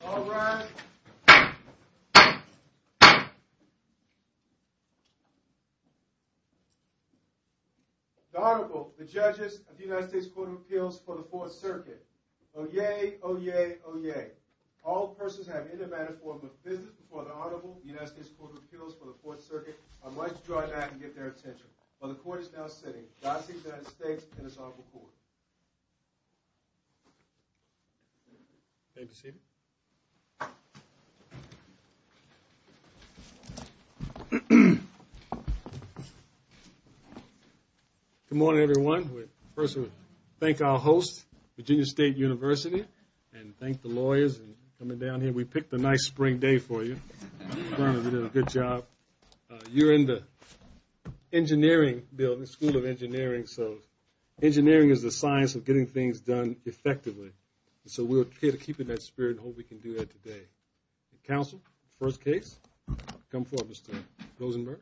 The Honorable, the Judges of the United States Court of Appeals for the Fourth Circuit. Oyez, oyez, oyez. All persons have in their manner formed a visit before the Honorable of the United States Court of Appeals for the Fourth Circuit. I would like to draw your attention. While the Court is now sitting, I seek the United States and this Honorable Court. Good morning, everyone. First, we thank our host, Virginia State University, and thank the lawyers for coming down here. We picked a nice spring day for you. We did a good job. You're in the engineering building, School of Engineering. So engineering is the science of getting things done effectively. So we'll try to keep in that spirit and hope we can do that today. Counsel, first case. Come forward, Mr. Rosenberg.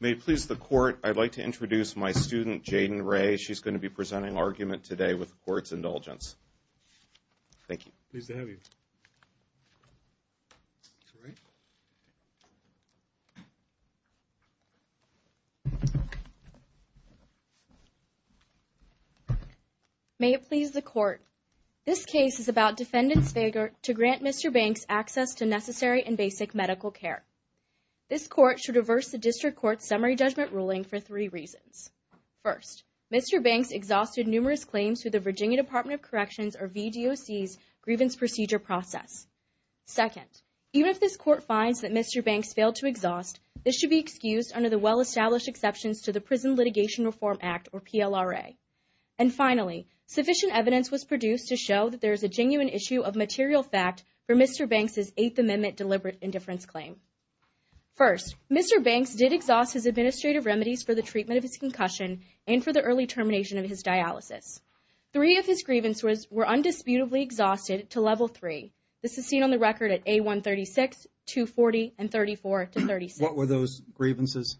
May it please the Court, I'd like to introduce my student, Jayden Ray. She's going to be presenting argument today with the Court's indulgence. Thank you. Pleased to have you. May it please the Court, this case is about defendants' failure to grant Mr. Banks access to necessary and basic medical care. This Court should reverse the District Court's summary judgment ruling for three reasons. First, Mr. Banks exhausted numerous claims through the Virginia Department of Corrections, or VDOC's, grievance procedure process. Second, even if this Court finds that Mr. Banks failed to exhaust, this should be excused under the well-established exceptions to the Prison Litigation Reform Act, or PLRA. And finally, sufficient evidence was produced to show that there is a genuine issue of material fact for Mr. Banks' Eighth Amendment deliberate indifference claim. First, Mr. Banks did exhaust his administrative remedies for the treatment of his concussion and for the early termination of his dialysis. Three of his grievances were undisputably exhausted to Level 3. This is seen on the record at A136, 240, and 34 to 36. What were those grievances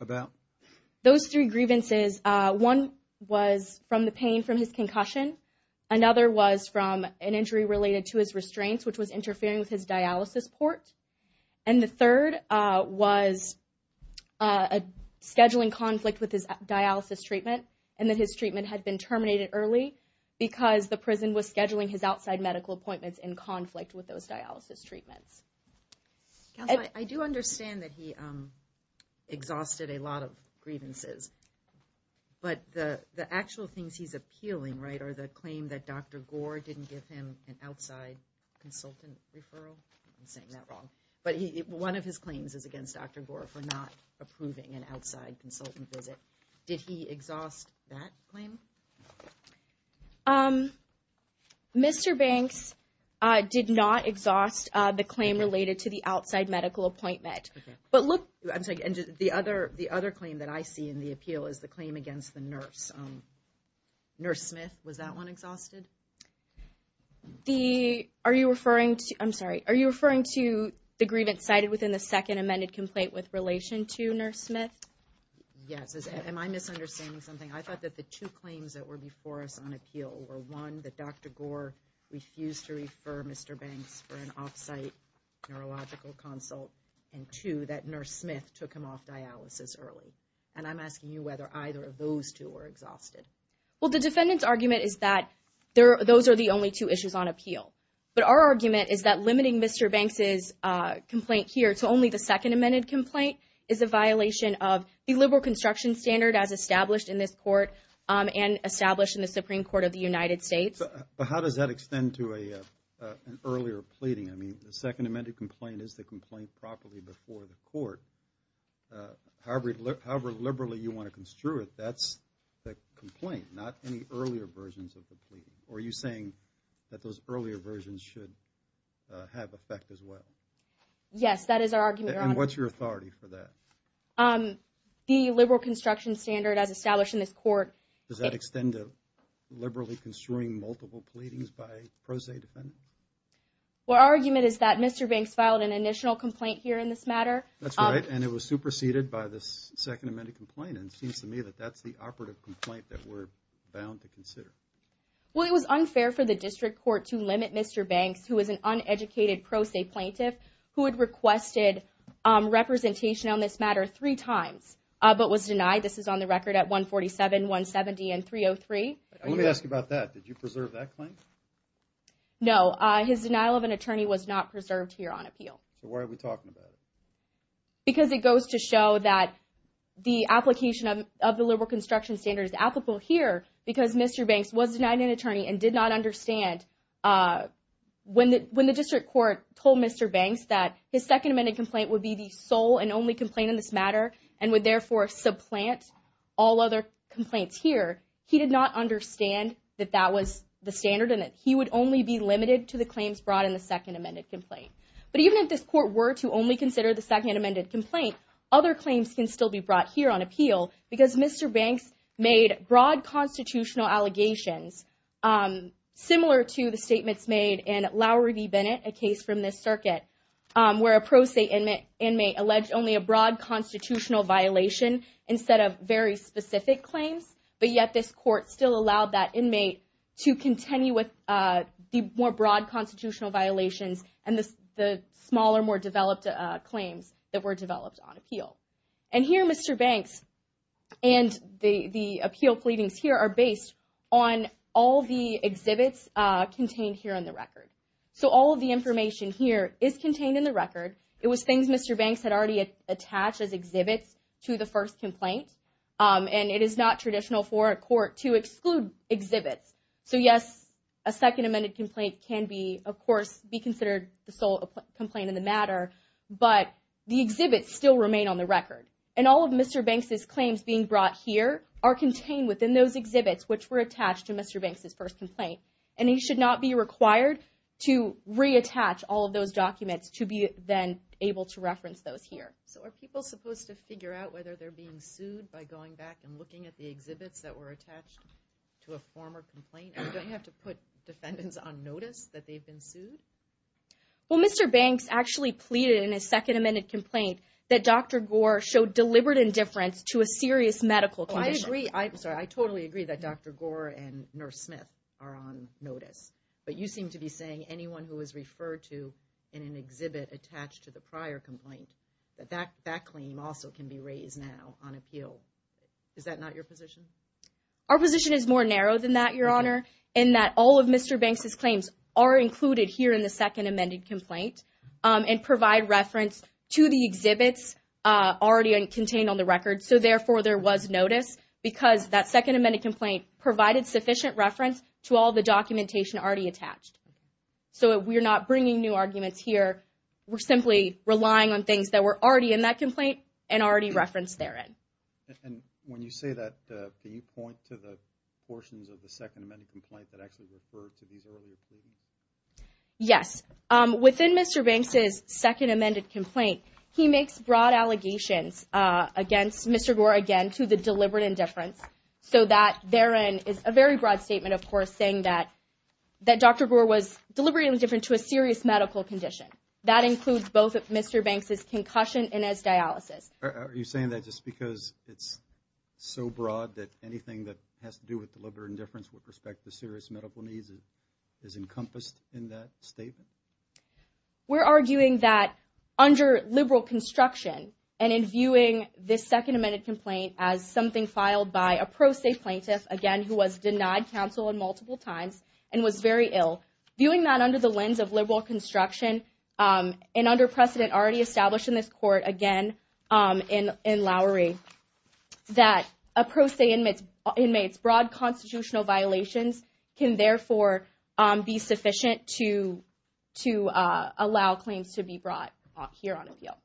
about? Those three grievances, one was from the pain from his concussion, another was from an injury related to his restraints, which was interfering with his dialysis port, and the third was scheduling conflict with his dialysis treatment, and that his treatment had been terminated early because the prison was scheduling his outside medical appointments in conflict with those dialysis treatments. I do understand that he exhausted a lot of grievances, but the actual things he's appealing, right, were the claim that Dr. Gore didn't give him an outside consultant referral. I'm saying that wrong. But one of his claims is against Dr. Gore for not approving an outside consultant visit. Did he exhaust that claim? Mr. Banks did not exhaust the claim related to the outside medical appointment. The other claim that I see in the appeal is the claim against the nurse. Nurse Smith, was that one exhausted? Are you referring to the grievance cited within the second amended complaint with relation to Nurse Smith? Yes. Am I misunderstanding something? I thought that the two claims that were before us on appeal were, one, that Dr. Gore refused to refer Mr. Banks for an off-site neurological consult, and two, that Nurse Smith took him off dialysis early. And I'm asking you whether either of those two were exhausted. Well, the defendant's argument is that those are the only two issues on appeal. But our argument is that limiting Mr. Banks' complaint here to only the second amended complaint is a violation of the liberal construction standard as established in this court and established in the Supreme Court of the United States. But how does that extend to an earlier pleading? I mean, the second amended complaint is the complaint properly before the court. However liberally you want to construe it, that's the complaint, not any earlier versions of the plea. Are you saying that those earlier versions should have effect as well? Yes, that is our argument. And what's your authority for that? The liberal construction standard as established in this court. Does that extend to liberally construing multiple pleadings by a pro se defendant? Well, our argument is that Mr. Banks filed an initial complaint here in this matter. That's right, and it was superseded by this second amended complaint. And it seems to me that that's the operative complaint that we're bound to consider. Well, it was unfair for the district court to limit Mr. Banks, who is an uneducated pro se plaintiff, who had requested representation on this matter three times, but was denied. This is on the record at 147, 170, and 303. Let me ask you about that. Did you preserve that claim? No, his denial of an attorney was not preserved here on appeal. So why are we talking about it? Because it goes to show that the application of the liberal construction standard is applicable here because Mr. Banks was denied an attorney and did not understand when the district court told Mr. Banks that his second amended complaint would be the sole and only complaint in this matter and would therefore supplant all other complaints here. He did not understand that that was the standard and that he would only be limited to the claims brought in the second amended complaint. But even if this court were to only consider the second amended complaint, other claims can still be brought here on appeal because Mr. Banks made broad constitutional allegations similar to the statements made in Lowry v. Bennett, a case from this circuit, where a pro se inmate alleged only a broad constitutional violation instead of very specific claims. But yet this court still allowed that inmate to continue with the more broad constitutional violations and the smaller, more developed claims that were developed on appeal. And here Mr. Banks and the appeal pleadings here are based on all the exhibits contained here on the record. So all of the information here is contained in the record. It was things Mr. Banks had already attached as exhibits to the first complaint. And it is not traditional for a court to exclude exhibits. So yes, a second amended complaint can be, of course, be considered the sole complaint in the matter, but the exhibits still remain on the record. And all of Mr. Banks' claims being brought here are contained within those exhibits, which were attached to Mr. Banks' first complaint. And he should not be required to reattach all of those documents to be then able to reference those here. So are people supposed to figure out whether they're being sued by going back and looking at the exhibits that were attached to a former complaint? Do I have to put defendants on notice that they've been sued? Well, Mr. Banks actually pleaded in his second amended complaint that Dr. Gore showed deliberate indifference to a serious medical condition. Oh, I agree. I'm sorry. I totally agree that Dr. Gore and Nurse Smith are on notice. But you seem to be saying anyone who was referred to in an exhibit attached to the prior complaint, that that claim also can be raised now on appeal. Is that not your position? Our position is more narrow than that, Your Honor, in that all of Mr. Banks' claims are included here in the second amended complaint and provide reference to the exhibits already contained on the record. So therefore, there was notice because that second amended complaint provided sufficient reference to all the documentation already attached. So we're not bringing new arguments here. We're simply relying on things that were already in that complaint and already referenced therein. And when you say that, do you point to the portions of the second amended complaint that actually refer to these earlier claims? Yes. Within Mr. Banks' second amended complaint, he makes broad allegations against Mr. Gore again to the deliberate indifference. So that therein is a very broad statement, of course, saying that Dr. Gore was deliberately indifferent to a serious medical condition. That includes both Mr. Banks' concussion and his dialysis. Are you saying that just because it's so broad that anything that has to do with deliberate indifference with respect to serious medical needs is encompassed in that statement? We're arguing that under liberal construction and in viewing this second amended complaint as something filed by a pro se plaintiff, again, who was denied counsel on multiple times and was very ill, viewing that under the lens of liberal construction and under precedent already established in this court, again, in Lowery, that a pro se inmate's broad constitutional violations can therefore be sufficient to allow claims to be brought here on appeal.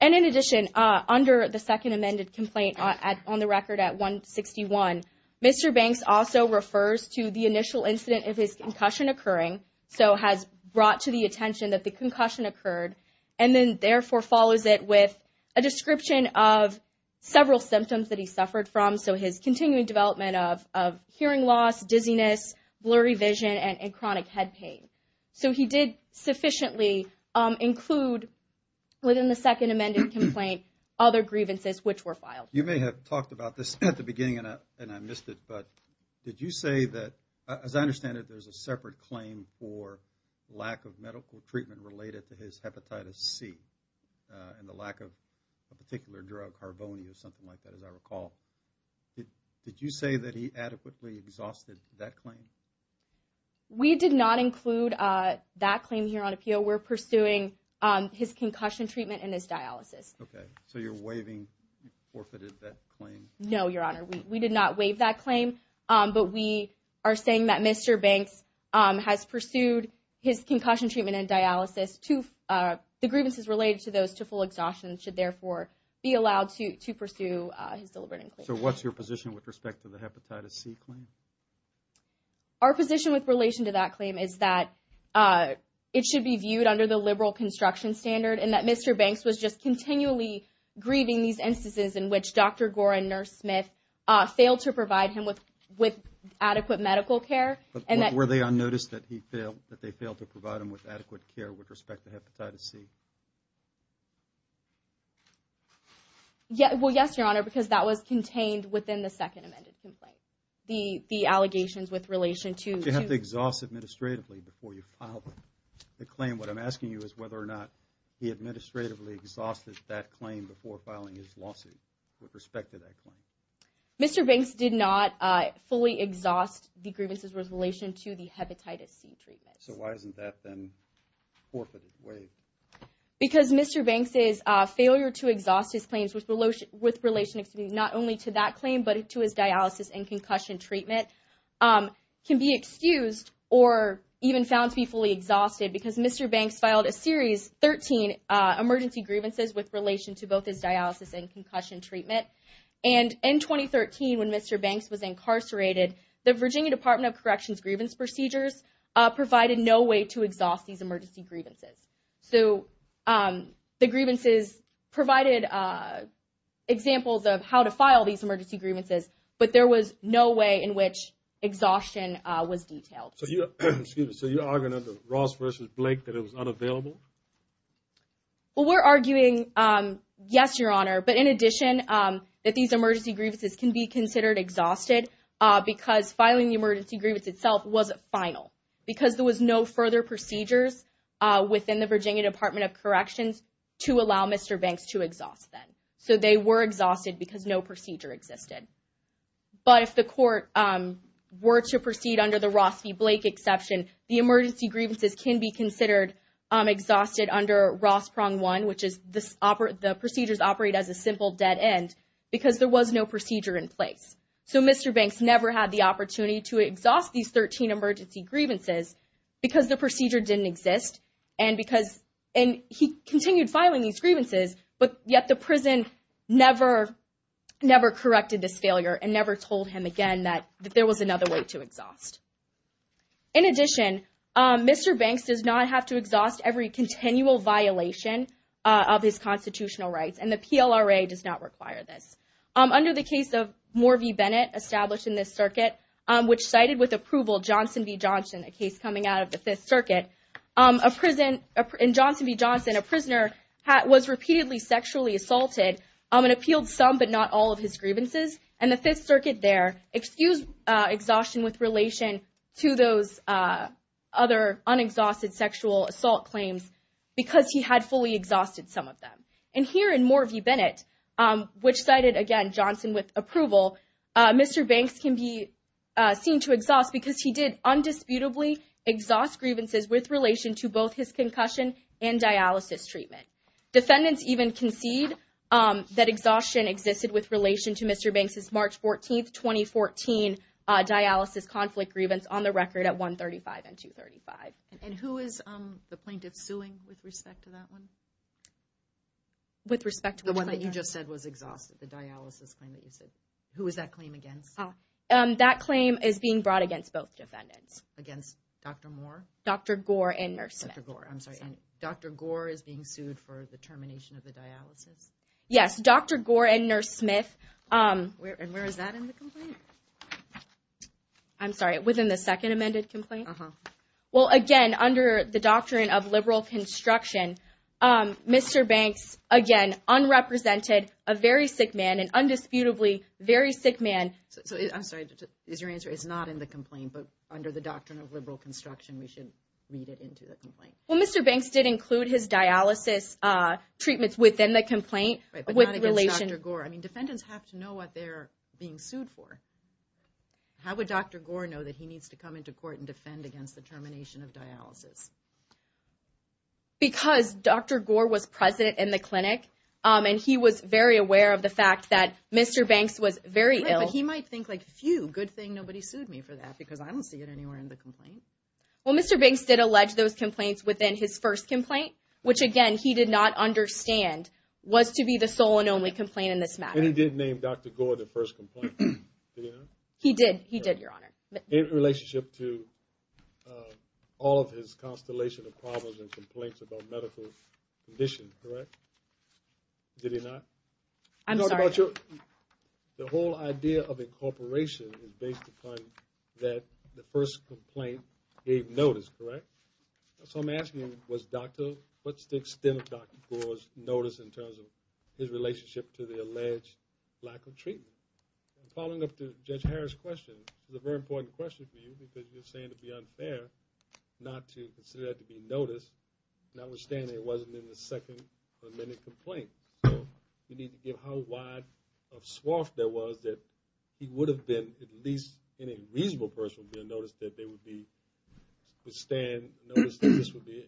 And in addition, under the second amended complaint on the record at 161, Mr. Banks also refers to the initial incident of his concussion occurring, so has brought to the attention that the concussion occurred, and then therefore follows it with a description of several symptoms that he suffered from. So his continuing development of hearing loss, dizziness, blurry vision, and chronic head pain. So he did sufficiently include within the second amended complaint other grievances which were filed. You may have talked about this at the beginning and I missed it, but did you say that, as I understand it, there's a separate claim for lack of medical treatment related to his hepatitis C and the lack of a particular drug, harvoni, or something like that, as I recall. Did you say that he adequately exhausted that claim? We did not include that claim here on appeal. We're pursuing his concussion treatment and his dialysis. Okay, so you're waiving, you forfeited that claim? No, Your Honor, we did not waive that claim, but we are saying that Mr. Banks has pursued his concussion treatment and dialysis. The grievances related to those to full exhaustion should, therefore, be allowed to pursue his deliberative claim. So what's your position with respect to the hepatitis C claim? Our position with relation to that claim is that it should be viewed under the liberal construction standard and that Mr. Banks was just continually grieving these instances in which Dr. Gore and Nurse Smith failed to provide him with adequate medical care. Were they unnoticed that they failed to provide him with adequate care with respect to hepatitis C? Well, yes, Your Honor, because that was contained within the second amended complaint. The allegations with relation to... You have to exhaust administratively before you file the claim. What I'm asking you is whether or not he administratively exhausted that claim before filing his lawsuit with respect to that claim. Mr. Banks did not fully exhaust the grievances with relation to the hepatitis C treatment. So why isn't that, then, forfeited, waived? Because Mr. Banks's failure to exhaust his claims with relation not only to that claim but to his dialysis and concussion treatment can be excused or even found to be fully exhausted because Mr. Banks filed a series 13 emergency grievances with relation to both his dialysis and concussion treatment. And in 2013, when Mr. Banks was incarcerated, the Virginia Department of Corrections grievance procedures provided no way to exhaust these emergency grievances. So the grievances provided examples of how to file these emergency grievances, but there was no way in which exhaustion was detailed. So you're arguing under Ross v. Blake that it was unavailable? Well, we're arguing, yes, Your Honor, but in addition that these emergency grievances can be considered exhausted because filing the emergency grievance itself wasn't final because there was no further procedures within the Virginia Department of Corrections to allow Mr. Banks to exhaust them. So they were exhausted because no procedure existed. But if the court were to proceed under the Ross v. Blake exception, the emergency grievances can be considered exhausted under Ross Prong 1, which is the procedures operate as a simple dead end because there was no procedure in place. So Mr. Banks never had the opportunity to exhaust these 13 emergency grievances because the procedure didn't exist and he continued filing these grievances, but yet the prison never corrected this failure and never told him again that there was another way to exhaust. In addition, Mr. Banks does not have to exhaust every continual violation of his constitutional rights, and the PLRA does not require this. Under the case of Morvey Bennett established in this circuit, which cited with approval Johnson v. Johnson, a case coming out of the Fifth Circuit, in Johnson v. Johnson, a prisoner was repeatedly sexually assaulted and appealed some but not all of his grievances, and the Fifth Circuit there excused exhaustion with relation to those other unexhausted sexual assault claims because he had fully exhausted some of them. And here in Morvey Bennett, which cited again Johnson with approval, Mr. Banks can be seen to exhaust because he did undisputably exhaust grievances with relation to both his concussion and dialysis treatment. Defendants even concede that exhaustion existed with relation to Mr. Banks' March 14, 2014, dialysis conflict grievance on the record at 135 and 235. And who is the plaintiff suing with respect to that one? With respect to which plaintiff? The one that you just said was exhausted, the dialysis claim that you said. Who is that claim against? That claim is being brought against both defendants. Against Dr. Moore? Dr. Gore and Nurse Smith. Dr. Gore, I'm sorry. And Dr. Gore is being sued for the termination of the dialysis? Yes, Dr. Gore and Nurse Smith. And where is that in the complaint? I'm sorry, within the second amended complaint? Well, again, under the doctrine of liberal construction, Mr. Banks, again, unrepresented, a very sick man, an undisputably very sick man. I'm sorry, is your answer, it's not in the complaint, but under the doctrine of liberal construction, we should read it into the complaint? Well, Mr. Banks did include his dialysis treatments within the complaint. But not against Dr. Gore. I mean, defendants have to know what they're being sued for. How would Dr. Gore know that he needs to come into court and defend against the termination of dialysis? Because Dr. Gore was present in the clinic, and he was very aware of the fact that Mr. Banks was very ill. Right, but he might think, like, phew, good thing nobody sued me for that, because I don't see it anywhere in the complaint. Well, Mr. Banks did allege those complaints within his first complaint, which, again, he did not understand was to be the sole and only complaint in this matter. And he did name Dr. Gore the first complaint, did he not? He did, he did, Your Honor. In relationship to all of his constellation of problems and complaints about medical condition, correct? Did he not? I'm sorry. The whole idea of incorporation is based upon that the first complaint gave notice, correct? So I'm asking, what's the extent of Dr. Gore's notice in terms of his relationship to the alleged lack of treatment? Following up to Judge Harris' question, it's a very important question for you, because you're saying it would be unfair not to consider that to be notice, notwithstanding it wasn't in the second amended complaint. So you need to give how wide a swath there was that he would have been, at least in a reasonable person would be, a notice that there would be, withstand notice that this would be a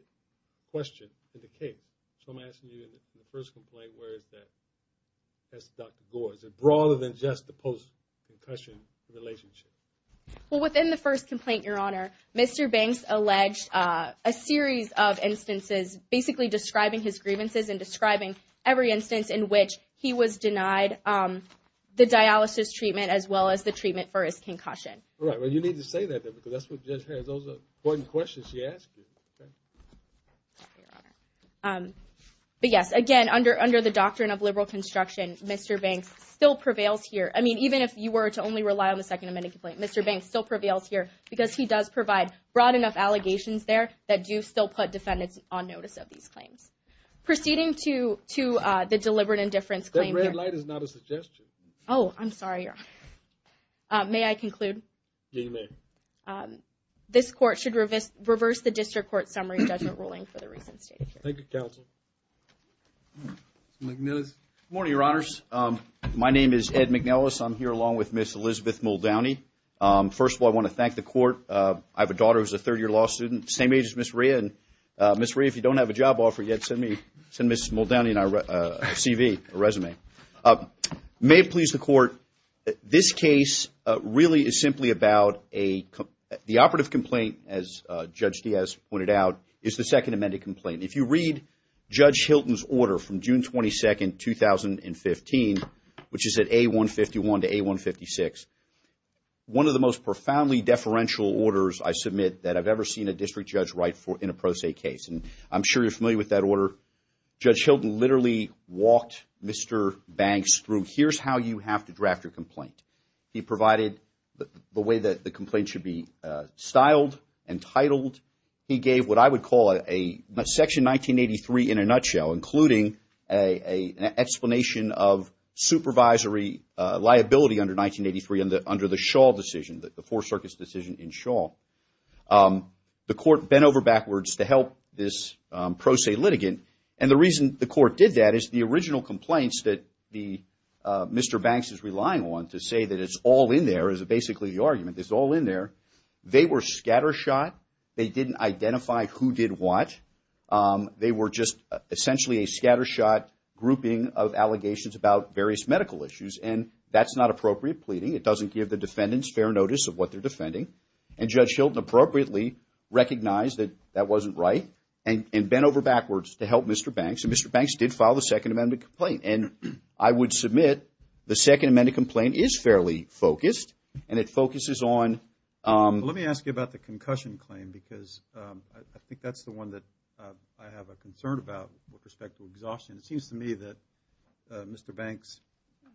question in the case. So I'm asking you, in the first complaint, where is that? That's Dr. Gore. Is it broader than just the post-concussion relationship? Well, within the first complaint, Your Honor, Mr. Banks alleged a series of instances basically describing his grievances and describing every instance in which he was denied the dialysis treatment as well as the treatment for his concussion. Right. Well, you need to say that, because that's what Judge Harris, those are important questions she asked you, okay? Thank you, Your Honor. But, yes, again, under the doctrine of liberal construction, Mr. Banks still prevails here. I mean, even if you were to only rely on the second amended complaint, Mr. Banks still prevails here because he does provide broad enough allegations there that do still put defendants on notice of these claims. Proceeding to the deliberate indifference claim here. That red light is not a suggestion. Oh, I'm sorry, Your Honor. May I conclude? You may. This court should reverse the district court summary judgment ruling for the recent state of affairs. Thank you, counsel. Mr. McNellis. Good morning, Your Honors. My name is Ed McNellis. I'm here along with Ms. Elizabeth Muldowney. First of all, I want to thank the court. I have a daughter who's a third-year law student, the same age as Ms. Rhea. And, Ms. Rhea, if you don't have a job offer yet, send Ms. Muldowney and I a CV, a resume. May it please the court, this case really is simply about the operative complaint, as Judge Diaz pointed out, is the second amended complaint. If you read Judge Hilton's order from June 22, 2015, which is at A151 to A156, one of the most profoundly deferential orders, I submit, that I've ever seen a district judge write in a pro se case. And I'm sure you're familiar with that order. Judge Hilton literally walked Mr. Banks through, here's how you have to draft your complaint. He provided the way that the complaint should be styled and titled. He gave what I would call a Section 1983 in a nutshell, including an explanation of supervisory liability under 1983 under the Shaw decision, the Four Circuit's decision in Shaw. The court bent over backwards to help this pro se litigant. And the reason the court did that is the original complaints that Mr. Banks is relying on to say that it's all in there, is basically the argument, it's all in there. They were scattershot. They didn't identify who did what. They were just essentially a scattershot grouping of allegations about various medical issues. And that's not appropriate pleading. It doesn't give the defendants fair notice of what they're defending. And Judge Hilton appropriately recognized that that wasn't right and bent over backwards to help Mr. Banks. So Mr. Banks did file the Second Amendment complaint. And I would submit the Second Amendment complaint is fairly focused and it focuses on… Let me ask you about the concussion claim because I think that's the one that I have a concern about with respect to exhaustion. It seems to me that Mr. Banks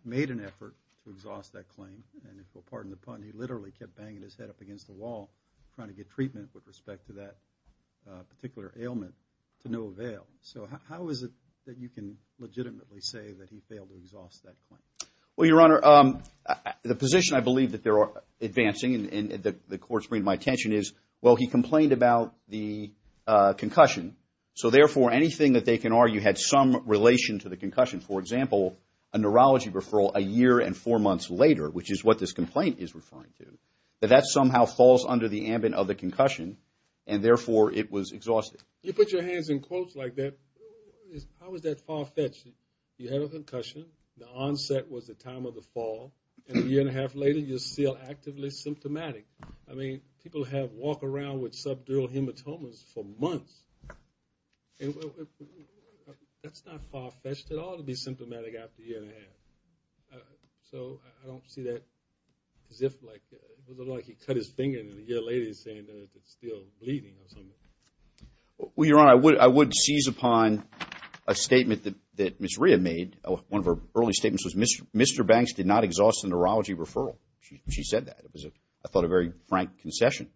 made an effort to exhaust that claim. And if you'll pardon the pun, he literally kept banging his head up against the wall trying to get treatment with respect to that particular ailment to no avail. So how is it that you can legitimately say that he failed to exhaust that claim? Well, Your Honor, the position I believe that they're advancing and the courts bring to my attention is, well, he complained about the concussion, so therefore anything that they can argue had some relation to the concussion. For example, a neurology referral a year and four months later, which is what this complaint is referring to, that that somehow falls under the ambit of the concussion, and therefore it was exhausted. You put your hands in quotes like that, how is that far-fetched? You had a concussion, the onset was the time of the fall, and a year and a half later you're still actively symptomatic. I mean, people have walked around with subdural hematomas for months. That's not far-fetched at all to be symptomatic after a year and a half. So I don't see that as if like he cut his finger and a year later he's saying that it's still bleeding or something. Well, Your Honor, I would seize upon a statement that Ms. Rhea made. One of her early statements was, Mr. Banks did not exhaust the neurology referral. She said that. It was, I thought, a very frank concession.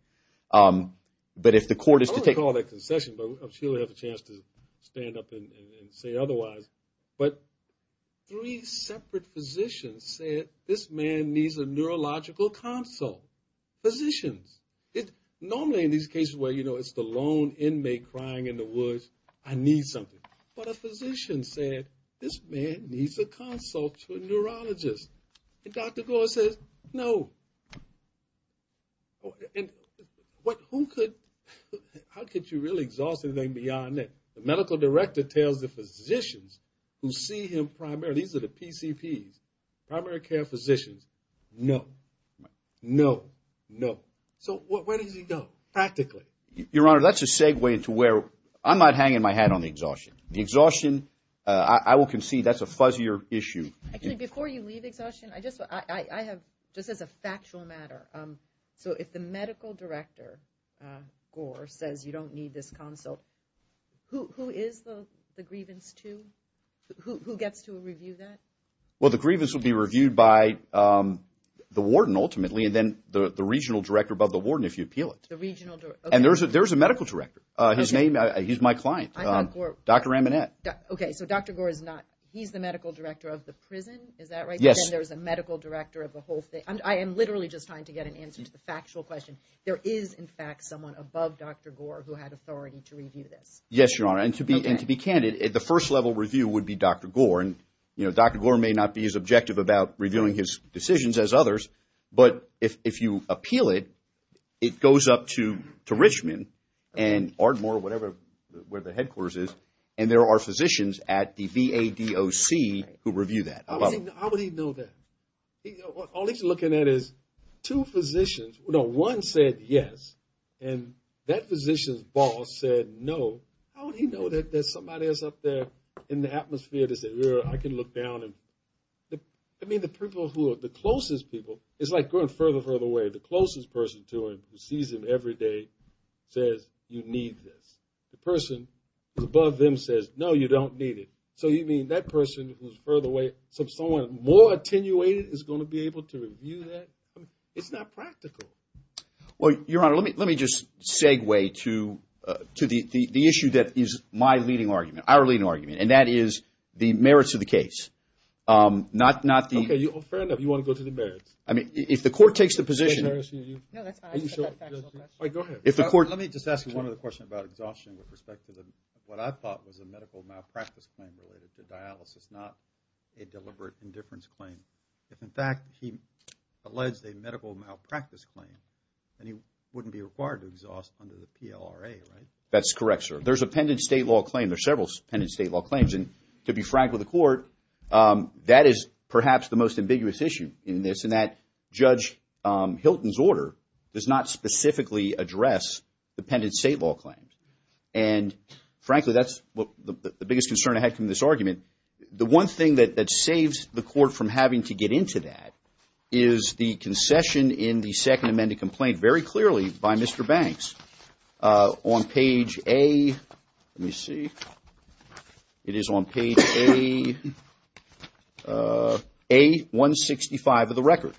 I wouldn't call it a concession, but she'll have a chance to stand up and say otherwise. But three separate physicians said, this man needs a neurological consult. Physicians, normally in these cases where, you know, it's the lone inmate crying in the woods, I need something. But a physician said, this man needs a consult to a neurologist. And Dr. Gore says, no. And who could, how could you really exhaust anything beyond that? The medical director tells the physicians who see him primarily, these are the PCPs, primary care physicians, no, no, no. So where does he go practically? Your Honor, that's a segue into where, I'm not hanging my hat on the exhaustion. The exhaustion, I will concede that's a fuzzier issue. Actually, before you leave exhaustion, I just, I have, just as a factual matter, so if the medical director, Gore, says you don't need this consult, who is the grievance to? Who gets to review that? Well, the grievance will be reviewed by the warden ultimately, and then the regional director above the warden if you appeal it. The regional director, okay. And there's a medical director. His name, he's my client. I'm not Gore. Dr. Amanat. Okay, so Dr. Gore is not, he's the medical director of the prison, is that right? Yes. Then there's a medical director of the whole thing. I am literally just trying to get an answer to the factual question. There is, in fact, someone above Dr. Gore who had authority to review this. Yes, Your Honor, and to be candid, the first level review would be Dr. Gore, and Dr. Gore may not be as objective about reviewing his decisions as others, but if you appeal it, it goes up to Richmond and Ardmore, whatever, where the headquarters is, and there are physicians at the VADOC who review that. How would he know that? All he's looking at is two physicians. One said yes, and that physician's boss said no. How would he know that there's somebody else up there in the atmosphere to say, I can look down and, I mean, the people who are the closest people, it's like going further and further away. The closest person to him who sees him every day says, you need this. The person who's above them says, no, you don't need it. So you mean that person who's further away, someone more attenuated is going to be able to review that? It's not practical. Well, Your Honor, let me just segue to the issue that is my leading argument, our leading argument, and that is the merits of the case, not the – Okay, fair enough. You want to go to the merits? I mean, if the court takes the position – No, that's fine. I just have a factual question. All right, go ahead. Let me just ask you one other question about exhaustion with respect to what I thought was a medical malpractice claim related to dialysis, not a deliberate indifference claim. If, in fact, he alleges a medical malpractice claim, then he wouldn't be required to exhaust under the PLRA, right? That's correct, sir. There's a pendent state law claim. There are several pendent state law claims. And to be frank with the court, that is perhaps the most ambiguous issue in this in that Judge Hilton's order does not specifically address the pendent state law claims. And frankly, that's the biggest concern I had from this argument. The one thing that saves the court from having to get into that is the concession in the Second Amendment complaint very clearly by Mr. Banks on page A – let me see. It is on page A-165 of the record.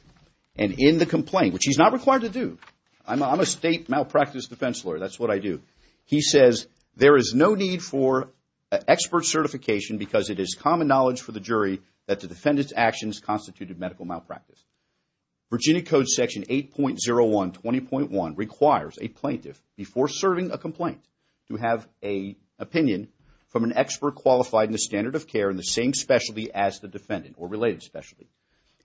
And in the complaint, which he's not required to do – I'm a state malpractice defense lawyer. That's what I do. He says, There is no need for expert certification because it is common knowledge for the jury that the defendant's actions constituted medical malpractice. Virginia Code Section 8.01-20.1 requires a plaintiff, before serving a complaint, to have an opinion from an expert qualified in the standard of care in the same specialty as the defendant or related specialty.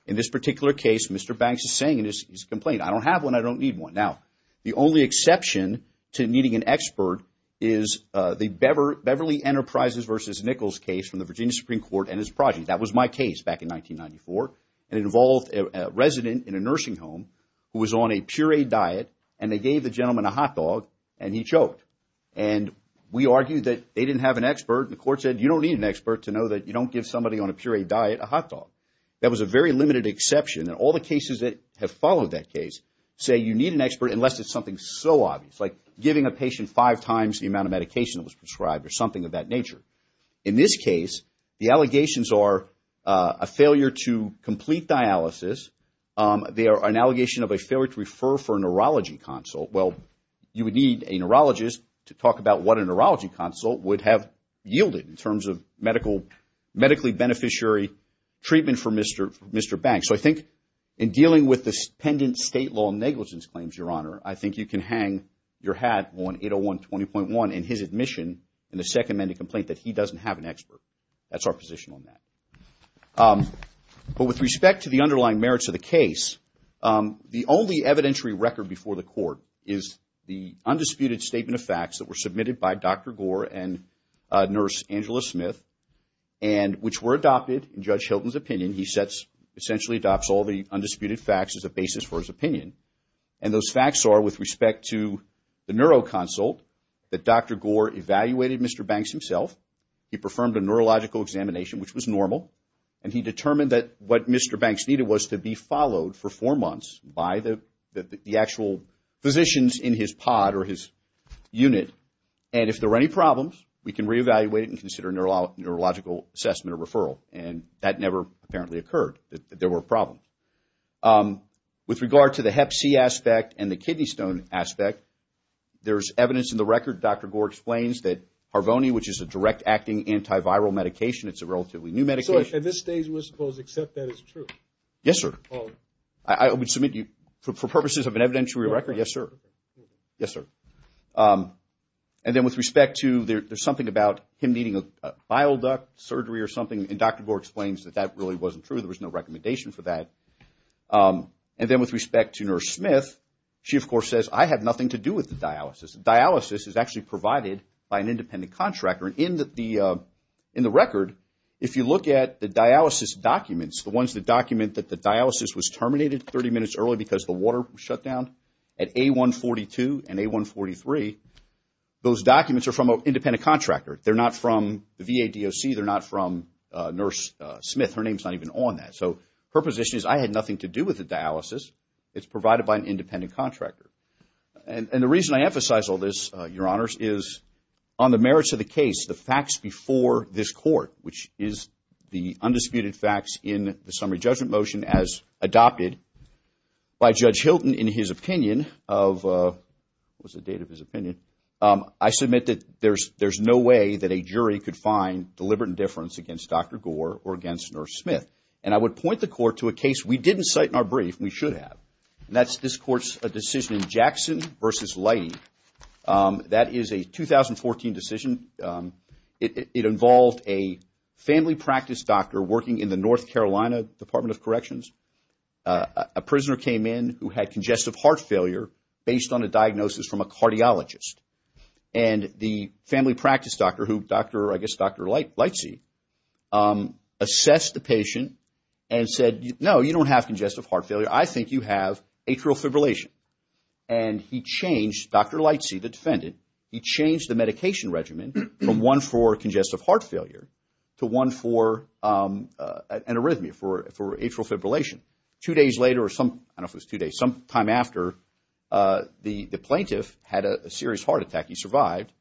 In this particular case, Mr. Banks is saying in his complaint, I don't have one. I don't need one. Now, the only exception to needing an expert is the Beverly Enterprises v. Nichols case from the Virginia Supreme Court and his project. That was my case back in 1994. It involved a resident in a nursing home who was on a pureed diet, and they gave the gentleman a hot dog, and he choked. And we argued that they didn't have an expert. The court said, You don't need an expert to know that you don't give somebody on a pureed diet a hot dog. That was a very limited exception. And all the cases that have followed that case say you need an expert unless it's something so obvious, like giving a patient five times the amount of medication that was prescribed or something of that nature. In this case, the allegations are a failure to complete dialysis. They are an allegation of a failure to refer for a neurology consult. Well, you would need a neurologist to talk about what a neurology consult would have yielded in terms of medically beneficiary treatment for Mr. Banks. So I think in dealing with the pendent state law negligence claims, Your Honor, I think you can hang your hat on 801-20.1 in his admission in the second amended complaint that he doesn't have an expert. That's our position on that. But with respect to the underlying merits of the case, the only evidentiary record before the court is the undisputed statement of facts that were submitted by Dr. Gore and Nurse Angela Smith, which were adopted in Judge Hilton's opinion. He essentially adopts all the undisputed facts as a basis for his opinion. And those facts are, with respect to the neuro consult, that Dr. Gore evaluated Mr. Banks himself. He performed a neurological examination, which was normal. And he determined that what Mr. Banks needed was to be followed for four months by the actual physicians in his pod or his unit. And if there were any problems, we can reevaluate and consider a neurological assessment or referral. And that never apparently occurred, that there were problems. With regard to the hep C aspect and the kidney stone aspect, there's evidence in the record, Dr. Gore explains that Harvoni, which is a direct acting antiviral medication, it's a relatively new medication. So at this stage, we're supposed to accept that as true? Yes, sir. I would submit you, for purposes of an evidentiary record, yes, sir. Yes, sir. And then with respect to, there's something about him needing a bile duct surgery or something, and Dr. Gore explains that that really wasn't true. There was no recommendation for that. And then with respect to Nurse Smith, she, of course, says, I have nothing to do with the dialysis. Dialysis is actually provided by an independent contractor. And in the record, if you look at the dialysis documents, the ones that document that the dialysis was terminated 30 minutes early because the water was shut down, at A142 and A143, those documents are from an independent contractor. They're not from the VADOC. They're not from Nurse Smith. Her name's not even on that. So her position is, I had nothing to do with the dialysis. It's provided by an independent contractor. And the reason I emphasize all this, Your Honors, is on the merits of the case, the facts before this court, which is the undisputed facts in the summary judgment motion as adopted by Judge Hilton in his opinion of, what was the date of his opinion? I submit that there's no way that a jury could find deliberate indifference against Dr. Gore or against Nurse Smith. And I would point the court to a case we didn't cite in our brief and we should have, and that's this court's decision in Jackson v. Lighting. That is a 2014 decision. It involved a family practice doctor working in the North Carolina Department of Corrections. A prisoner came in who had congestive heart failure based on a diagnosis from a cardiologist. And the family practice doctor who, I guess Dr. Lightsey, assessed the patient and said, no, you don't have congestive heart failure. I think you have atrial fibrillation. He changed the medication regimen from one for congestive heart failure to one for an arrhythmia, for atrial fibrillation. Two days later or some, I don't know if it was two days, sometime after, the plaintiff had a serious heart attack. He survived.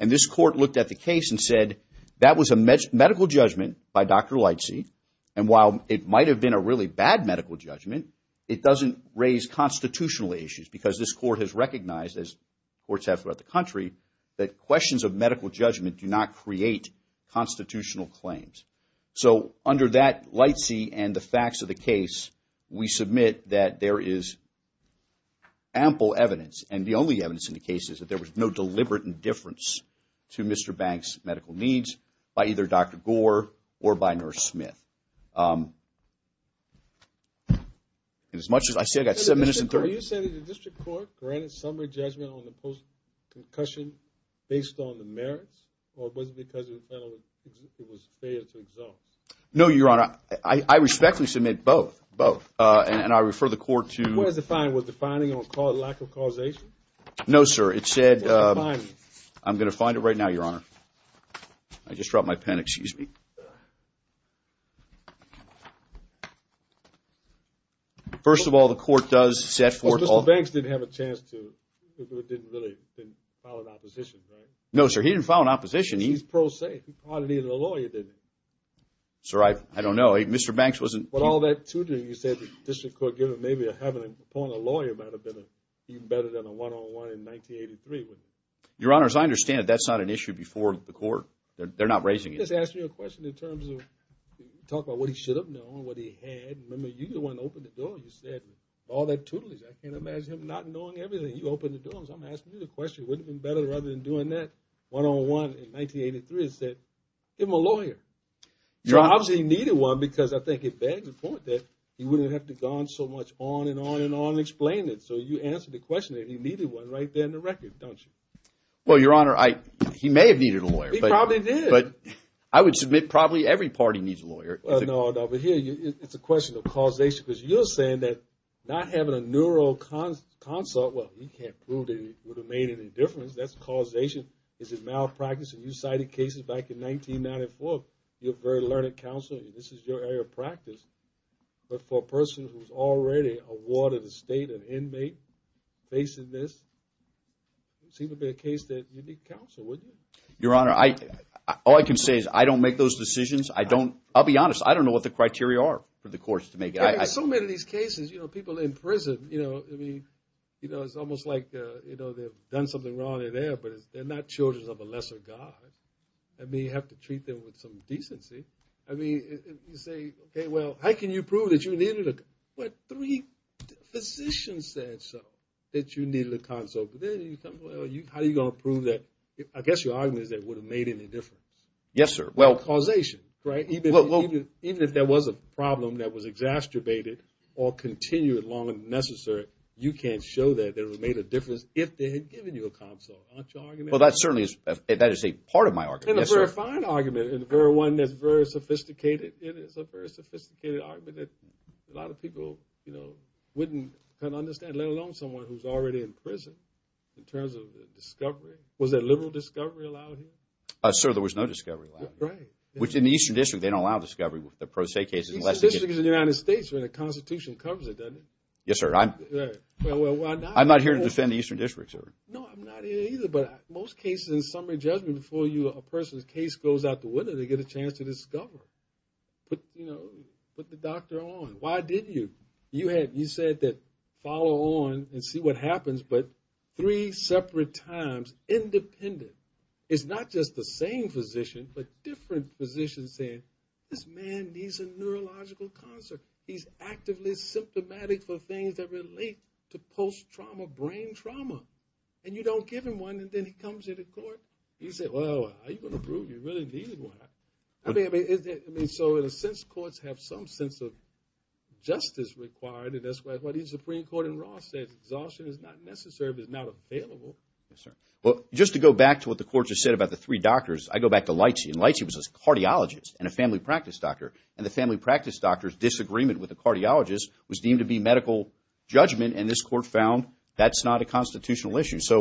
And this court looked at the case and said, that was a medical judgment by Dr. Lightsey. And while it might have been a really bad medical judgment, it doesn't raise constitutional issues because this court has recognized, as courts have throughout the country, that questions of medical judgment do not create constitutional claims. So under that Lightsey and the facts of the case, we submit that there is ample evidence. And the only evidence in the case is that there was no deliberate indifference to Mr. Banks' medical needs by either Dr. Gore or by Nurse Smith. And as much as I said, I've got 7 minutes and 30 seconds. Are you saying that the district court granted summary judgment on the post-concussion based on the merits, or was it because the penalty was fair to exalt? No, Your Honor. I respectfully submit both. Both. And I refer the court to. What does it define? Was it defining a lack of causation? No, sir. It said. I'm going to find it right now, Your Honor. I just dropped my pen. Excuse me. First of all, the court does set forth. Well, Mr. Banks didn't have a chance to. He didn't really file an opposition, right? No, sir. He didn't file an opposition. He's pro se. He probably needed a lawyer, didn't he? Sir, I don't know. Mr. Banks wasn't. But all that to do, you said the district court gave him maybe having a lawyer might have been even better than a one-on-one in 1983. Your Honor, as I understand it, that's not an issue before the court. They're not raising it. Just ask me a question in terms of talk about what he should have known, what he had. Remember, you're the one that opened the door. You said all that tootley. I can't imagine him not knowing everything. You opened the door. I'm asking you the question. Wouldn't it have been better rather than doing that one-on-one in 1983 and said, give him a lawyer? Obviously, he needed one because I think it begs the point that he wouldn't have to have gone so much on and on and on explaining it. So you answered the question that he needed one right there in the record, don't you? Well, Your Honor, he may have needed a lawyer. He probably did. But I would submit probably every party needs a lawyer. No, but here it's a question of causation because you're saying that not having a neural consult, well, you can't prove that it would have made any difference. That's causation. Is it malpractice? And you cited cases back in 1994. You're a very learned counselor. This is your area of practice. But for a person who's already a ward of the state, an inmate, facing this, it would seem to be a case that you need counsel, wouldn't you? Your Honor, all I can say is I don't make those decisions. I don't – I'll be honest. I don't know what the criteria are for the courts to make it. So many of these cases, you know, people in prison, you know, I mean, you know, it's almost like, you know, they've done something wrong in there, but they're not children of a lesser God. I mean you have to treat them with some decency. I mean you say, okay, well, how can you prove that you needed a – what, three physicians said so that you needed a counsel. How are you going to prove that – I guess your argument is that it would have made any difference. Yes, sir. Causation, right? Even if there was a problem that was exacerbated or continued long as necessary, you can't show that it would have made a difference if they had given you a counsel. Aren't you arguing that? Well, that certainly is – that is a part of my argument. Yes, sir. And a very fine argument and one that's very sophisticated. It is a very sophisticated argument that a lot of people, you know, wouldn't kind of understand, let alone someone who's already in prison in terms of discovery. Was there liberal discovery allowed here? Sir, there was no discovery allowed. Right. Which in the Eastern District, they don't allow discovery with the pro se cases unless – The Eastern District is in the United States where the Constitution covers it, doesn't it? Yes, sir. Well, I'm not – I'm not here to defend the Eastern District, sir. No, I'm not here either, but most cases in summary judgment before you – a person's case goes out the window, they get a chance to discover. Put, you know, put the doctor on. Why did you? You had – you said that follow on and see what happens, but three separate times, independent. It's not just the same physician, but different physicians saying, this man needs a neurological consult. He's actively symptomatic for things that relate to post-trauma brain trauma, and you don't give him one, and then he comes into court. You say, well, are you going to prove you really needed one? I mean, so in a sense, courts have some sense of justice required, and that's why the Supreme Court in Ross says exhaustion is not necessary but is not available. Yes, sir. Well, just to go back to what the court just said about the three doctors, I go back to Lightsey, and Lightsey was a cardiologist and a family practice doctor. And the family practice doctor's disagreement with the cardiologist was deemed to be medical judgment, and this court found that's not a constitutional issue. Can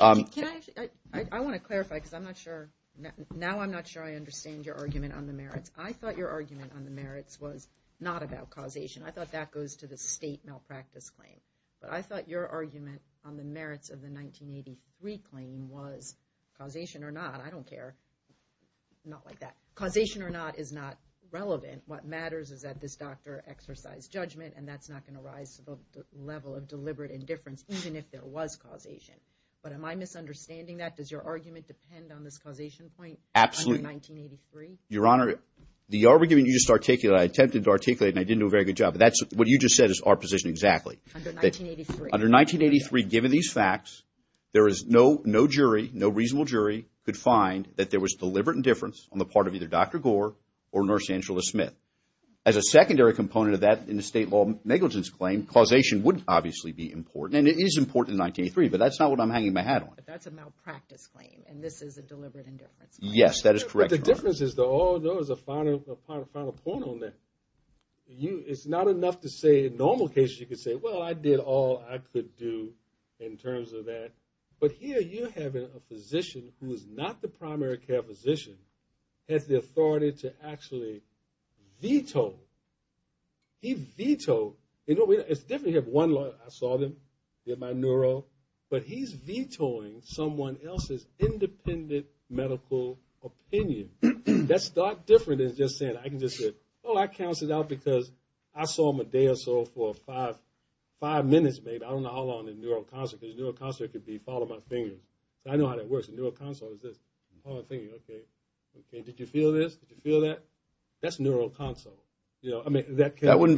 I – I want to clarify because I'm not sure – now I'm not sure I understand your argument on the merits. I thought your argument on the merits was not about causation. I thought that goes to the state malpractice claim. But I thought your argument on the merits of the 1983 claim was causation or not. I don't care. Not like that. Causation or not is not relevant. What matters is that this doctor exercised judgment, and that's not going to rise to the level of deliberate indifference even if there was causation. But am I misunderstanding that? Does your argument depend on this causation point under 1983? Absolutely. Your Honor, the argument you just articulated, I attempted to articulate it, and I didn't do a very good job, but that's – what you just said is our position exactly. Under 1983. Under 1983, given these facts, there is no jury, no reasonable jury could find that there was deliberate indifference on the part of either Dr. Gore or Nurse Angela Smith. As a secondary component of that in the state law negligence claim, causation would obviously be important, and it is important in 1983, but that's not what I'm hanging my hat on. But that's a malpractice claim, and this is a deliberate indifference claim. Yes, that is correct, Your Honor. But the difference is the – there was a final point on that. It's not enough to say in normal cases you could say, well, I did all I could do in terms of that. But here you have a physician who is not the primary care physician has the authority to actually veto. He vetoed – it's different. You have one lawyer. I saw them. You have Manuro. But he's vetoing someone else's independent medical opinion. That's not different than just saying – I can just say, oh, I cancelled out because I saw Medea for five minutes, maybe. I don't know how long in neuroconsult. Because neuroconsult could be follow my finger. I know how that works. A neuroconsult is this. Oh, I'm thinking, okay. Did you feel this? Did you feel that? That's neuroconsult. I mean, that can – That would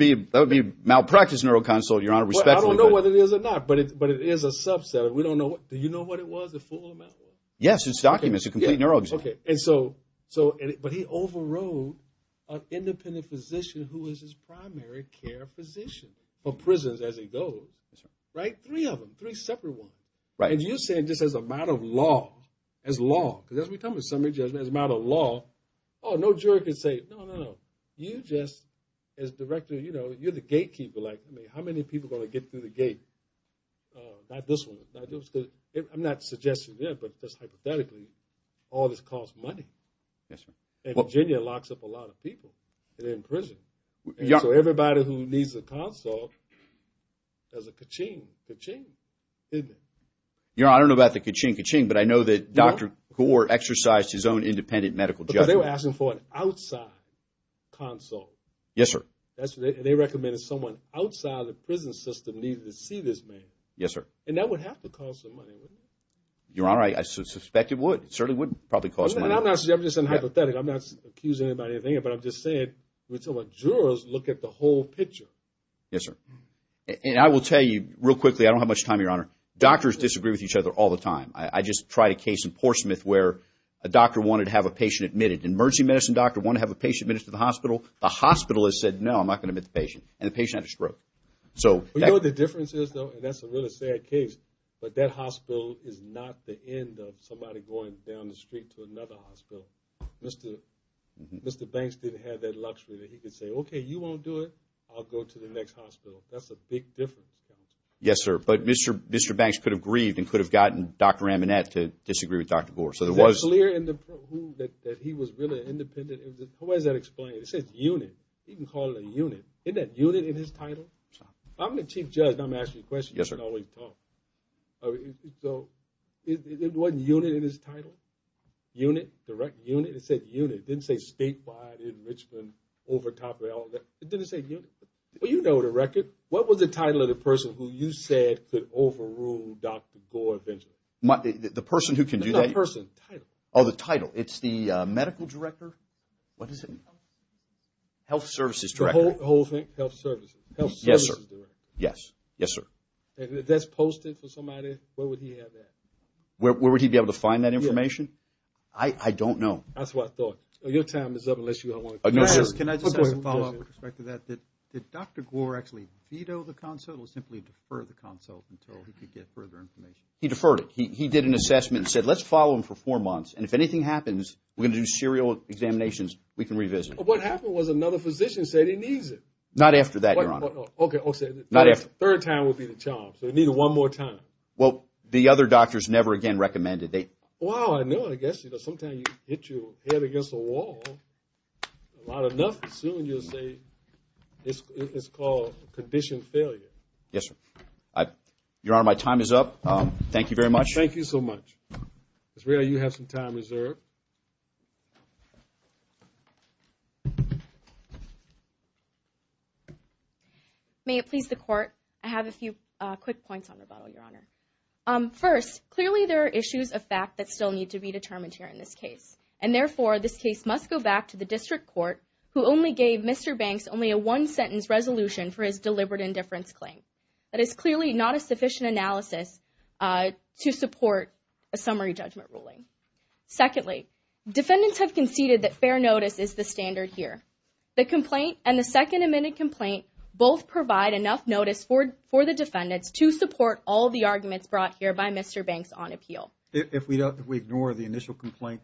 be malpractice neuroconsult, Your Honor, respectfully. I don't know whether it is or not, but it is a subset. We don't know – do you know what it was, the full amount? Yes, it's documents. It's a complete neuro – Okay. And so – but he overrode an independent physician who is his primary care physician for prisons as he goes. Right? Three of them. Three separate ones. Right. And you're saying just as a matter of law, as law – because we're talking about summary judgment, as a matter of law. Oh, no juror can say, no, no, no. You just – as director, you know, you're the gatekeeper. Like, I mean, how many people are going to get through the gate? Not this one. I'm not suggesting that, but just hypothetically, all this costs money. Yes, sir. And Virginia locks up a lot of people that are in prison. And so everybody who needs a consult has a ka-ching, ka-ching, isn't it? Your Honor, I don't know about the ka-ching, ka-ching, but I know that Dr. Kaur exercised his own independent medical judgment. But they were asking for an outside consult. Yes, sir. And they recommended someone outside the prison system needed to see this man. Yes, sir. And that would have to cost some money, wouldn't it? Your Honor, I suspect it would. It certainly would probably cost money. I'm not – I'm just saying hypothetically. I'm not accusing anybody of anything, but I'm just saying we're talking about jurors look at the whole picture. Yes, sir. And I will tell you real quickly – I don't have much time, Your Honor. Doctors disagree with each other all the time. I just tried a case in Portsmouth where a doctor wanted to have a patient admitted. An emergency medicine doctor wanted to have a patient admitted to the hospital. The hospitalist said, no, I'm not going to admit the patient, and the patient had a stroke. You know what the difference is, though, and that's a really sad case, but that hospital is not the end of somebody going down the street to another hospital. Mr. Banks didn't have that luxury that he could say, okay, you won't do it. I'll go to the next hospital. That's a big difference. Yes, sir. But Mr. Banks could have grieved and could have gotten Dr. Amanat to disagree with Dr. Gore. So there was – Is it clear in the – that he was really independent? How is that explained? It says unit. You can call it a unit. Isn't that unit in his title? I'm the chief judge, and I'm asking you a question. Yes, sir. You can always talk. So it wasn't unit in his title? Unit, direct unit? It said unit. It didn't say statewide in Richmond over top of all that. It didn't say unit. Well, you know the record. What was the title of the person who you said could overrule Dr. Gore eventually? The person who can do that? No, the person. Title. Oh, the title. It's the medical director? What is it? Health services director. Health services director. The whole thing? Health services. Health services director. Yes, sir. Yes, sir. And if that's posted for somebody, where would he have that? Where would he be able to find that information? I don't know. That's what I thought. Your time is up unless you want to – Can I just ask a follow-up with respect to that? Did Dr. Gore actually veto the consult or simply defer the consult until he could get further information? He deferred it. He did an assessment and said, let's follow him for four months, and if anything happens, we're going to do serial examinations. We can revisit. What happened was another physician said he needs it. Not after that, Your Honor. Okay. Third time will be the charm, so we need it one more time. Well, the other doctors never again recommended it. Well, I know. I guess sometimes you hit your head against the wall. A lot of nothing. Soon you'll say it's called condition failure. Yes, sir. Your Honor, my time is up. Thank you very much. Thank you so much. Israel, you have some time reserved. May it please the Court? I have a few quick points on rebuttal, Your Honor. First, clearly there are issues of fact that still need to be determined here in this case, and therefore this case must go back to the district court who only gave Mr. Banks only a one-sentence resolution for his deliberate indifference claim. That is clearly not a sufficient analysis to support a summary judgment ruling. Secondly, defendants have conceded that fair notice is the standard here. The complaint and the second amended complaint both provide enough notice for the defendants to support all the arguments brought here by Mr. Banks on appeal. If we ignore the initial complaint,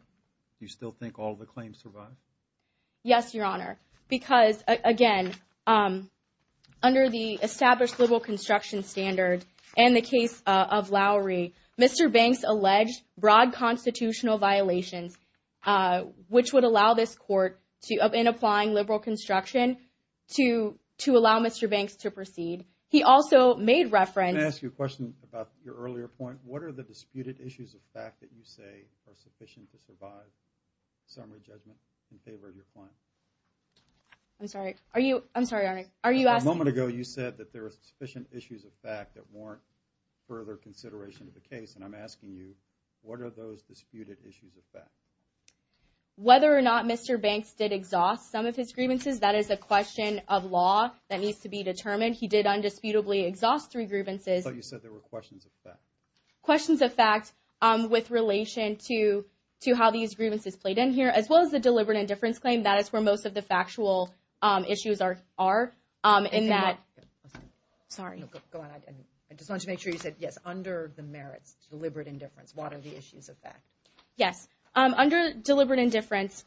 do you still think all the claims survive? Yes, Your Honor, because, again, under the established liberal construction standard and the case of Lowry, Mr. Banks alleged broad constitutional violations, which would allow this court, in applying liberal construction, to allow Mr. Banks to proceed. He also made reference— Can I ask you a question about your earlier point? What are the disputed issues of fact that you say are sufficient to survive summary judgment in favor of your claim? I'm sorry. Are you—I'm sorry, Your Honor. Are you asking— You said that there are sufficient issues of fact that warrant further consideration of the case, and I'm asking you, what are those disputed issues of fact? Whether or not Mr. Banks did exhaust some of his grievances, that is a question of law that needs to be determined. He did undisputably exhaust three grievances. But you said there were questions of fact. Questions of fact with relation to how these grievances played in here, as well as the deliberate indifference claim. That is where most of the factual issues are, in that— Sorry. Go on. I just wanted to make sure you said, yes, under the merits, deliberate indifference, what are the issues of fact? Yes. Under deliberate indifference,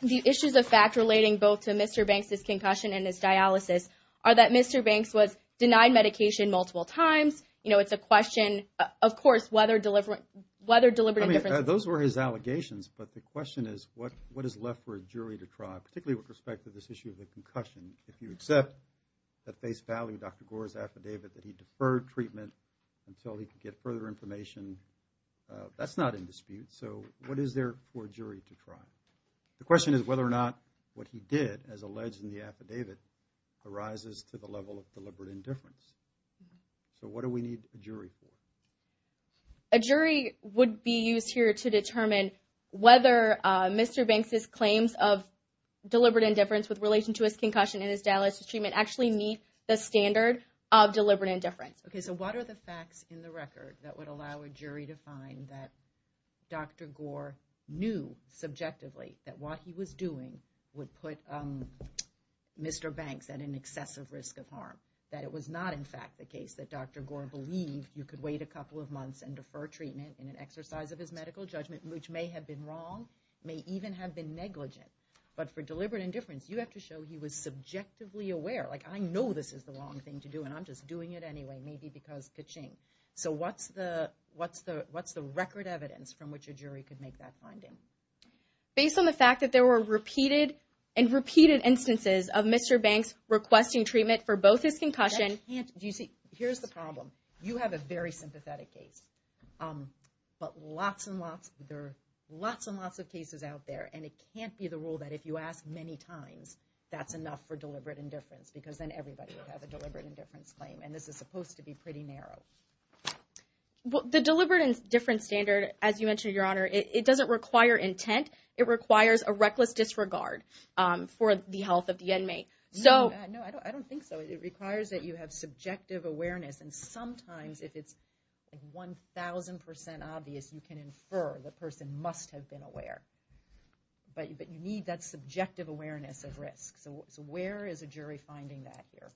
the issues of fact relating both to Mr. Banks' concussion and his dialysis are that Mr. Banks was denied medication multiple times. You know, it's a question, of course, whether deliberate indifference— Those were his allegations, but the question is, what is left for a jury to try, particularly with respect to this issue of the concussion? If you accept at face value Dr. Gore's affidavit that he deferred treatment until he could get further information, that's not in dispute. So what is there for a jury to try? The question is whether or not what he did, as alleged in the affidavit, arises to the level of deliberate indifference. So what do we need a jury for? A jury would be used here to determine whether Mr. Banks' claims of deliberate indifference with relation to his concussion and his dialysis treatment actually meet the standard of deliberate indifference. Okay, so what are the facts in the record that would allow a jury to find that Dr. Gore knew subjectively that what he was doing would put Mr. Banks at an excessive risk of harm, that it was not, in fact, the case that Dr. Gore believed you could wait a couple of months and defer treatment in an exercise of his medical judgment, which may have been wrong, may even have been negligent. But for deliberate indifference, you have to show he was subjectively aware. Like, I know this is the wrong thing to do, and I'm just doing it anyway, maybe because ka-ching. So what's the record evidence from which a jury could make that finding? Based on the fact that there were repeated and repeated instances of Mr. Banks requesting treatment for both his concussion. Do you see, here's the problem. You have a very sympathetic case, but lots and lots, there are lots and lots of cases out there, and it can't be the rule that if you ask many times, that's enough for deliberate indifference, because then everybody would have a deliberate indifference claim, and this is supposed to be pretty narrow. The deliberate indifference standard, as you mentioned, Your Honor, it doesn't require intent. It requires a reckless disregard for the health of the inmate. No, I don't think so. It requires that you have subjective awareness, and sometimes if it's 1,000% obvious, you can infer the person must have been aware. But you need that subjective awareness of risk. So where is a jury finding that here?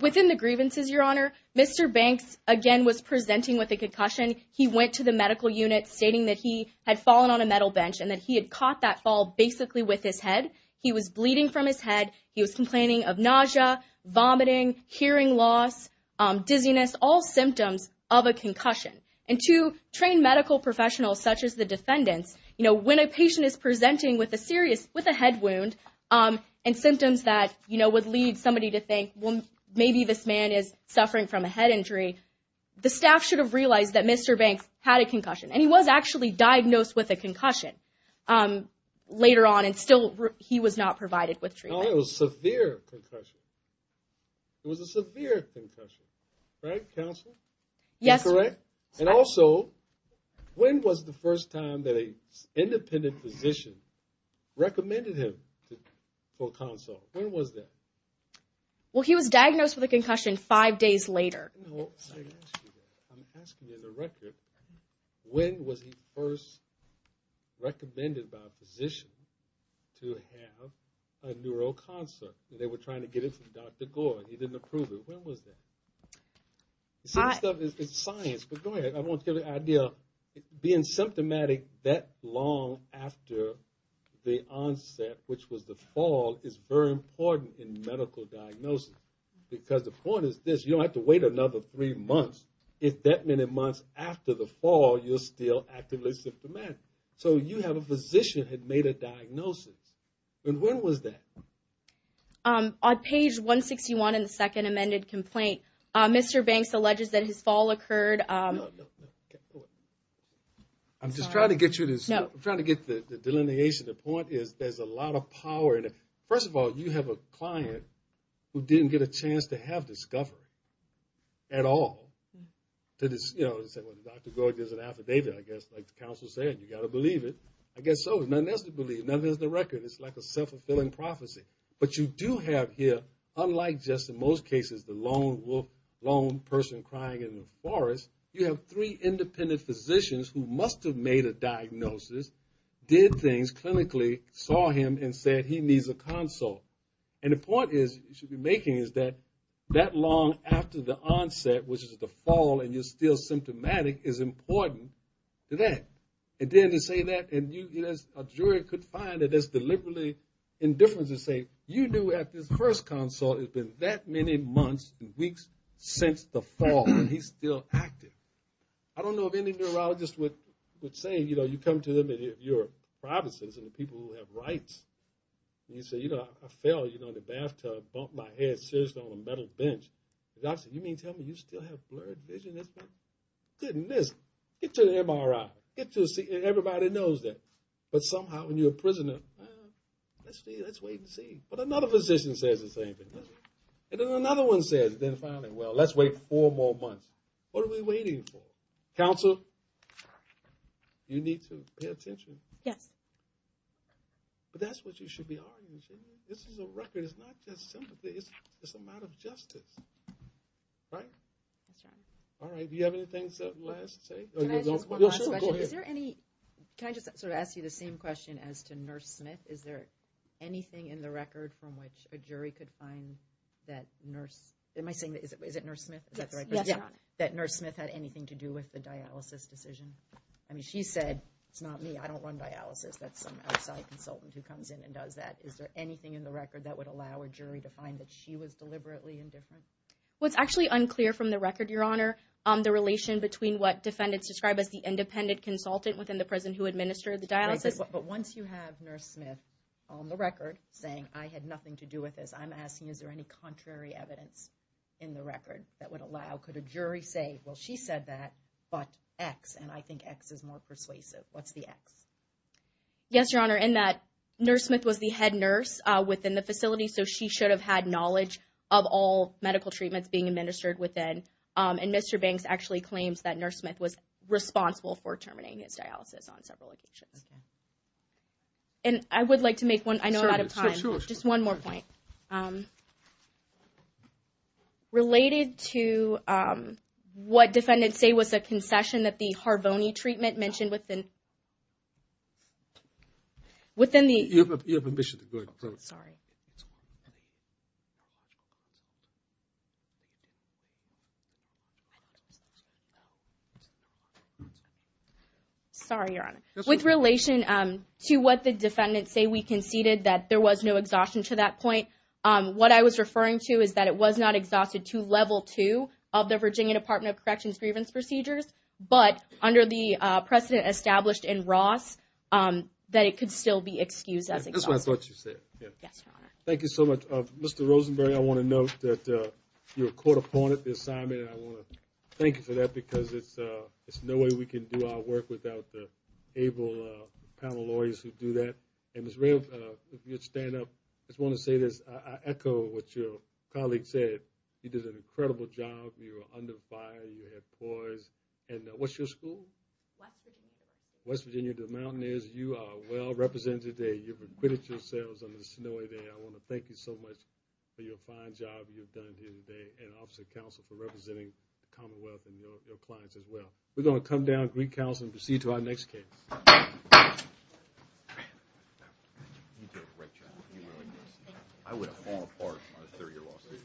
Within the grievances, Your Honor. Mr. Banks, again, was presenting with a concussion. He went to the medical unit stating that he had fallen on a metal bench and that he had caught that fall basically with his head. He was bleeding from his head. He was complaining of nausea, vomiting, hearing loss, dizziness, all symptoms of a concussion. And to train medical professionals such as the defendants, when a patient is presenting with a head wound and symptoms that would lead somebody to think, well, maybe this man is suffering from a head injury, the staff should have realized that Mr. Banks had a concussion, and he was actually diagnosed with a concussion later on, and still he was not provided with treatment. Oh, it was a severe concussion. It was a severe concussion, right, counsel? Yes. Is that correct? And also, when was the first time that an independent physician recommended him for counsel? When was that? Well, he was diagnosed with a concussion five days later. I'm asking you the record. When was he first recommended by a physician to have a neuro consult? They were trying to get it from Dr. Gore. He didn't approve it. When was that? It's science, but go ahead. I want to give you an idea. Being symptomatic that long after the onset, which was the fall, is very important in medical diagnosis because the point is this, you don't have to wait another three months. If that many months after the fall, you're still actively symptomatic. So you have a physician who had made a diagnosis. And when was that? On page 161 in the second amended complaint, Mr. Banks alleges that his fall occurred. No, no, no. I'm just trying to get you this. I'm trying to get the delineation. The point is there's a lot of power. First of all, you have a client who didn't get a chance to have discovered at all. You know, Dr. Gore gives an affidavit, I guess, like the counsel said. You've got to believe it. I guess so. There's nothing else to believe. Nothing is the record. It's like a self-fulfilling prophecy. But you do have here, unlike just in most cases the lone person crying in the forest, you have three independent physicians who must have made a diagnosis, did things clinically, saw him, and said he needs a consult. And the point you should be making is that that long after the onset, which is the fall, and you're still symptomatic, is important to that. And then to say that, and a jury could find that there's deliberately indifference and say, you knew at this first consult it had been that many months and weeks since the fall, and he's still active. I don't know if any neurologist would say, you know, you come to them, your private citizens and the people who have rights, and you say, you know, I fell, you know, in the bathtub, bumped my head seriously on a metal bench. The doctor said, you mean to tell me you still have blurred vision? Goodness. Get you an MRI. Get you a CT. Everybody knows that. But somehow when you're a prisoner, let's wait and see. But another physician says the same thing. And then another one says, then finally, well, let's wait four more months. What are we waiting for? Counsel, you need to pay attention. Yes. But that's what you should be arguing, shouldn't you? This is a record. It's not just sympathy. It's a matter of justice. Right? That's right. All right. Do you have anything last to say? Can I just ask one last question? Go ahead. Is there any – can I just sort of ask you the same question as to Nurse Smith? Is there anything in the record from which a jury could find that Nurse – am I saying – is it Nurse Smith? Is that the right question? Yes. That Nurse Smith had anything to do with the dialysis decision? I mean, she said, it's not me. I don't run dialysis. That's some outside consultant who comes in and does that. Is there anything in the record that would allow a jury to find that she was deliberately indifferent? Well, it's actually unclear from the record, Your Honor, the relation between what defendants describe as the independent consultant within the prison who administered the dialysis. But once you have Nurse Smith on the record saying, I had nothing to do with this, I'm asking is there any contrary evidence in the record that would allow – could a jury say, well, she said that, but X, and I think X is more persuasive. What's the X? Yes, Your Honor, in that Nurse Smith was the head nurse within the facility, so she should have had knowledge of all medical treatments being administered within. And Mr. Banks actually claims that Nurse Smith was responsible for terminating his dialysis on several occasions. Okay. And I would like to make one – I know I'm out of time. Sure, sure. Just one more point. Related to what defendants say was a concession that the Harvoni treatment mentioned within the – You have permission to go ahead. Sorry. Sorry, Your Honor. With relation to what the defendants say, we conceded that there was no exhaustion to that point. What I was referring to is that it was not exhausted to level two of the Virginia Department of Corrections grievance procedures, but under the precedent established in Ross, that it could still be excused as exhaustion. That's what I thought you said. Yes, Your Honor. Thank you so much. Mr. Rosenberg, I want to note that you were caught upon at the assignment, and I want to thank you for that because it's no way we can do our work without the able panel lawyers who do that. And Ms. Rave, if you would stand up. I just want to say this. I echo what your colleague said. You did an incredible job. You were under fire. You had poise. And what's your school? West Virginia. West Virginia. The Mountaineers. You are well represented today. You've acquitted yourselves on this snowy day. I want to thank you so much for your fine job you've done here today, and Office of Counsel for representing the Commonwealth and your clients as well. We're going to come down, greet counsel, and proceed to our next case. Thank you. You did a great job. You really did. I would have fallen apart on a 30-year lawsuit.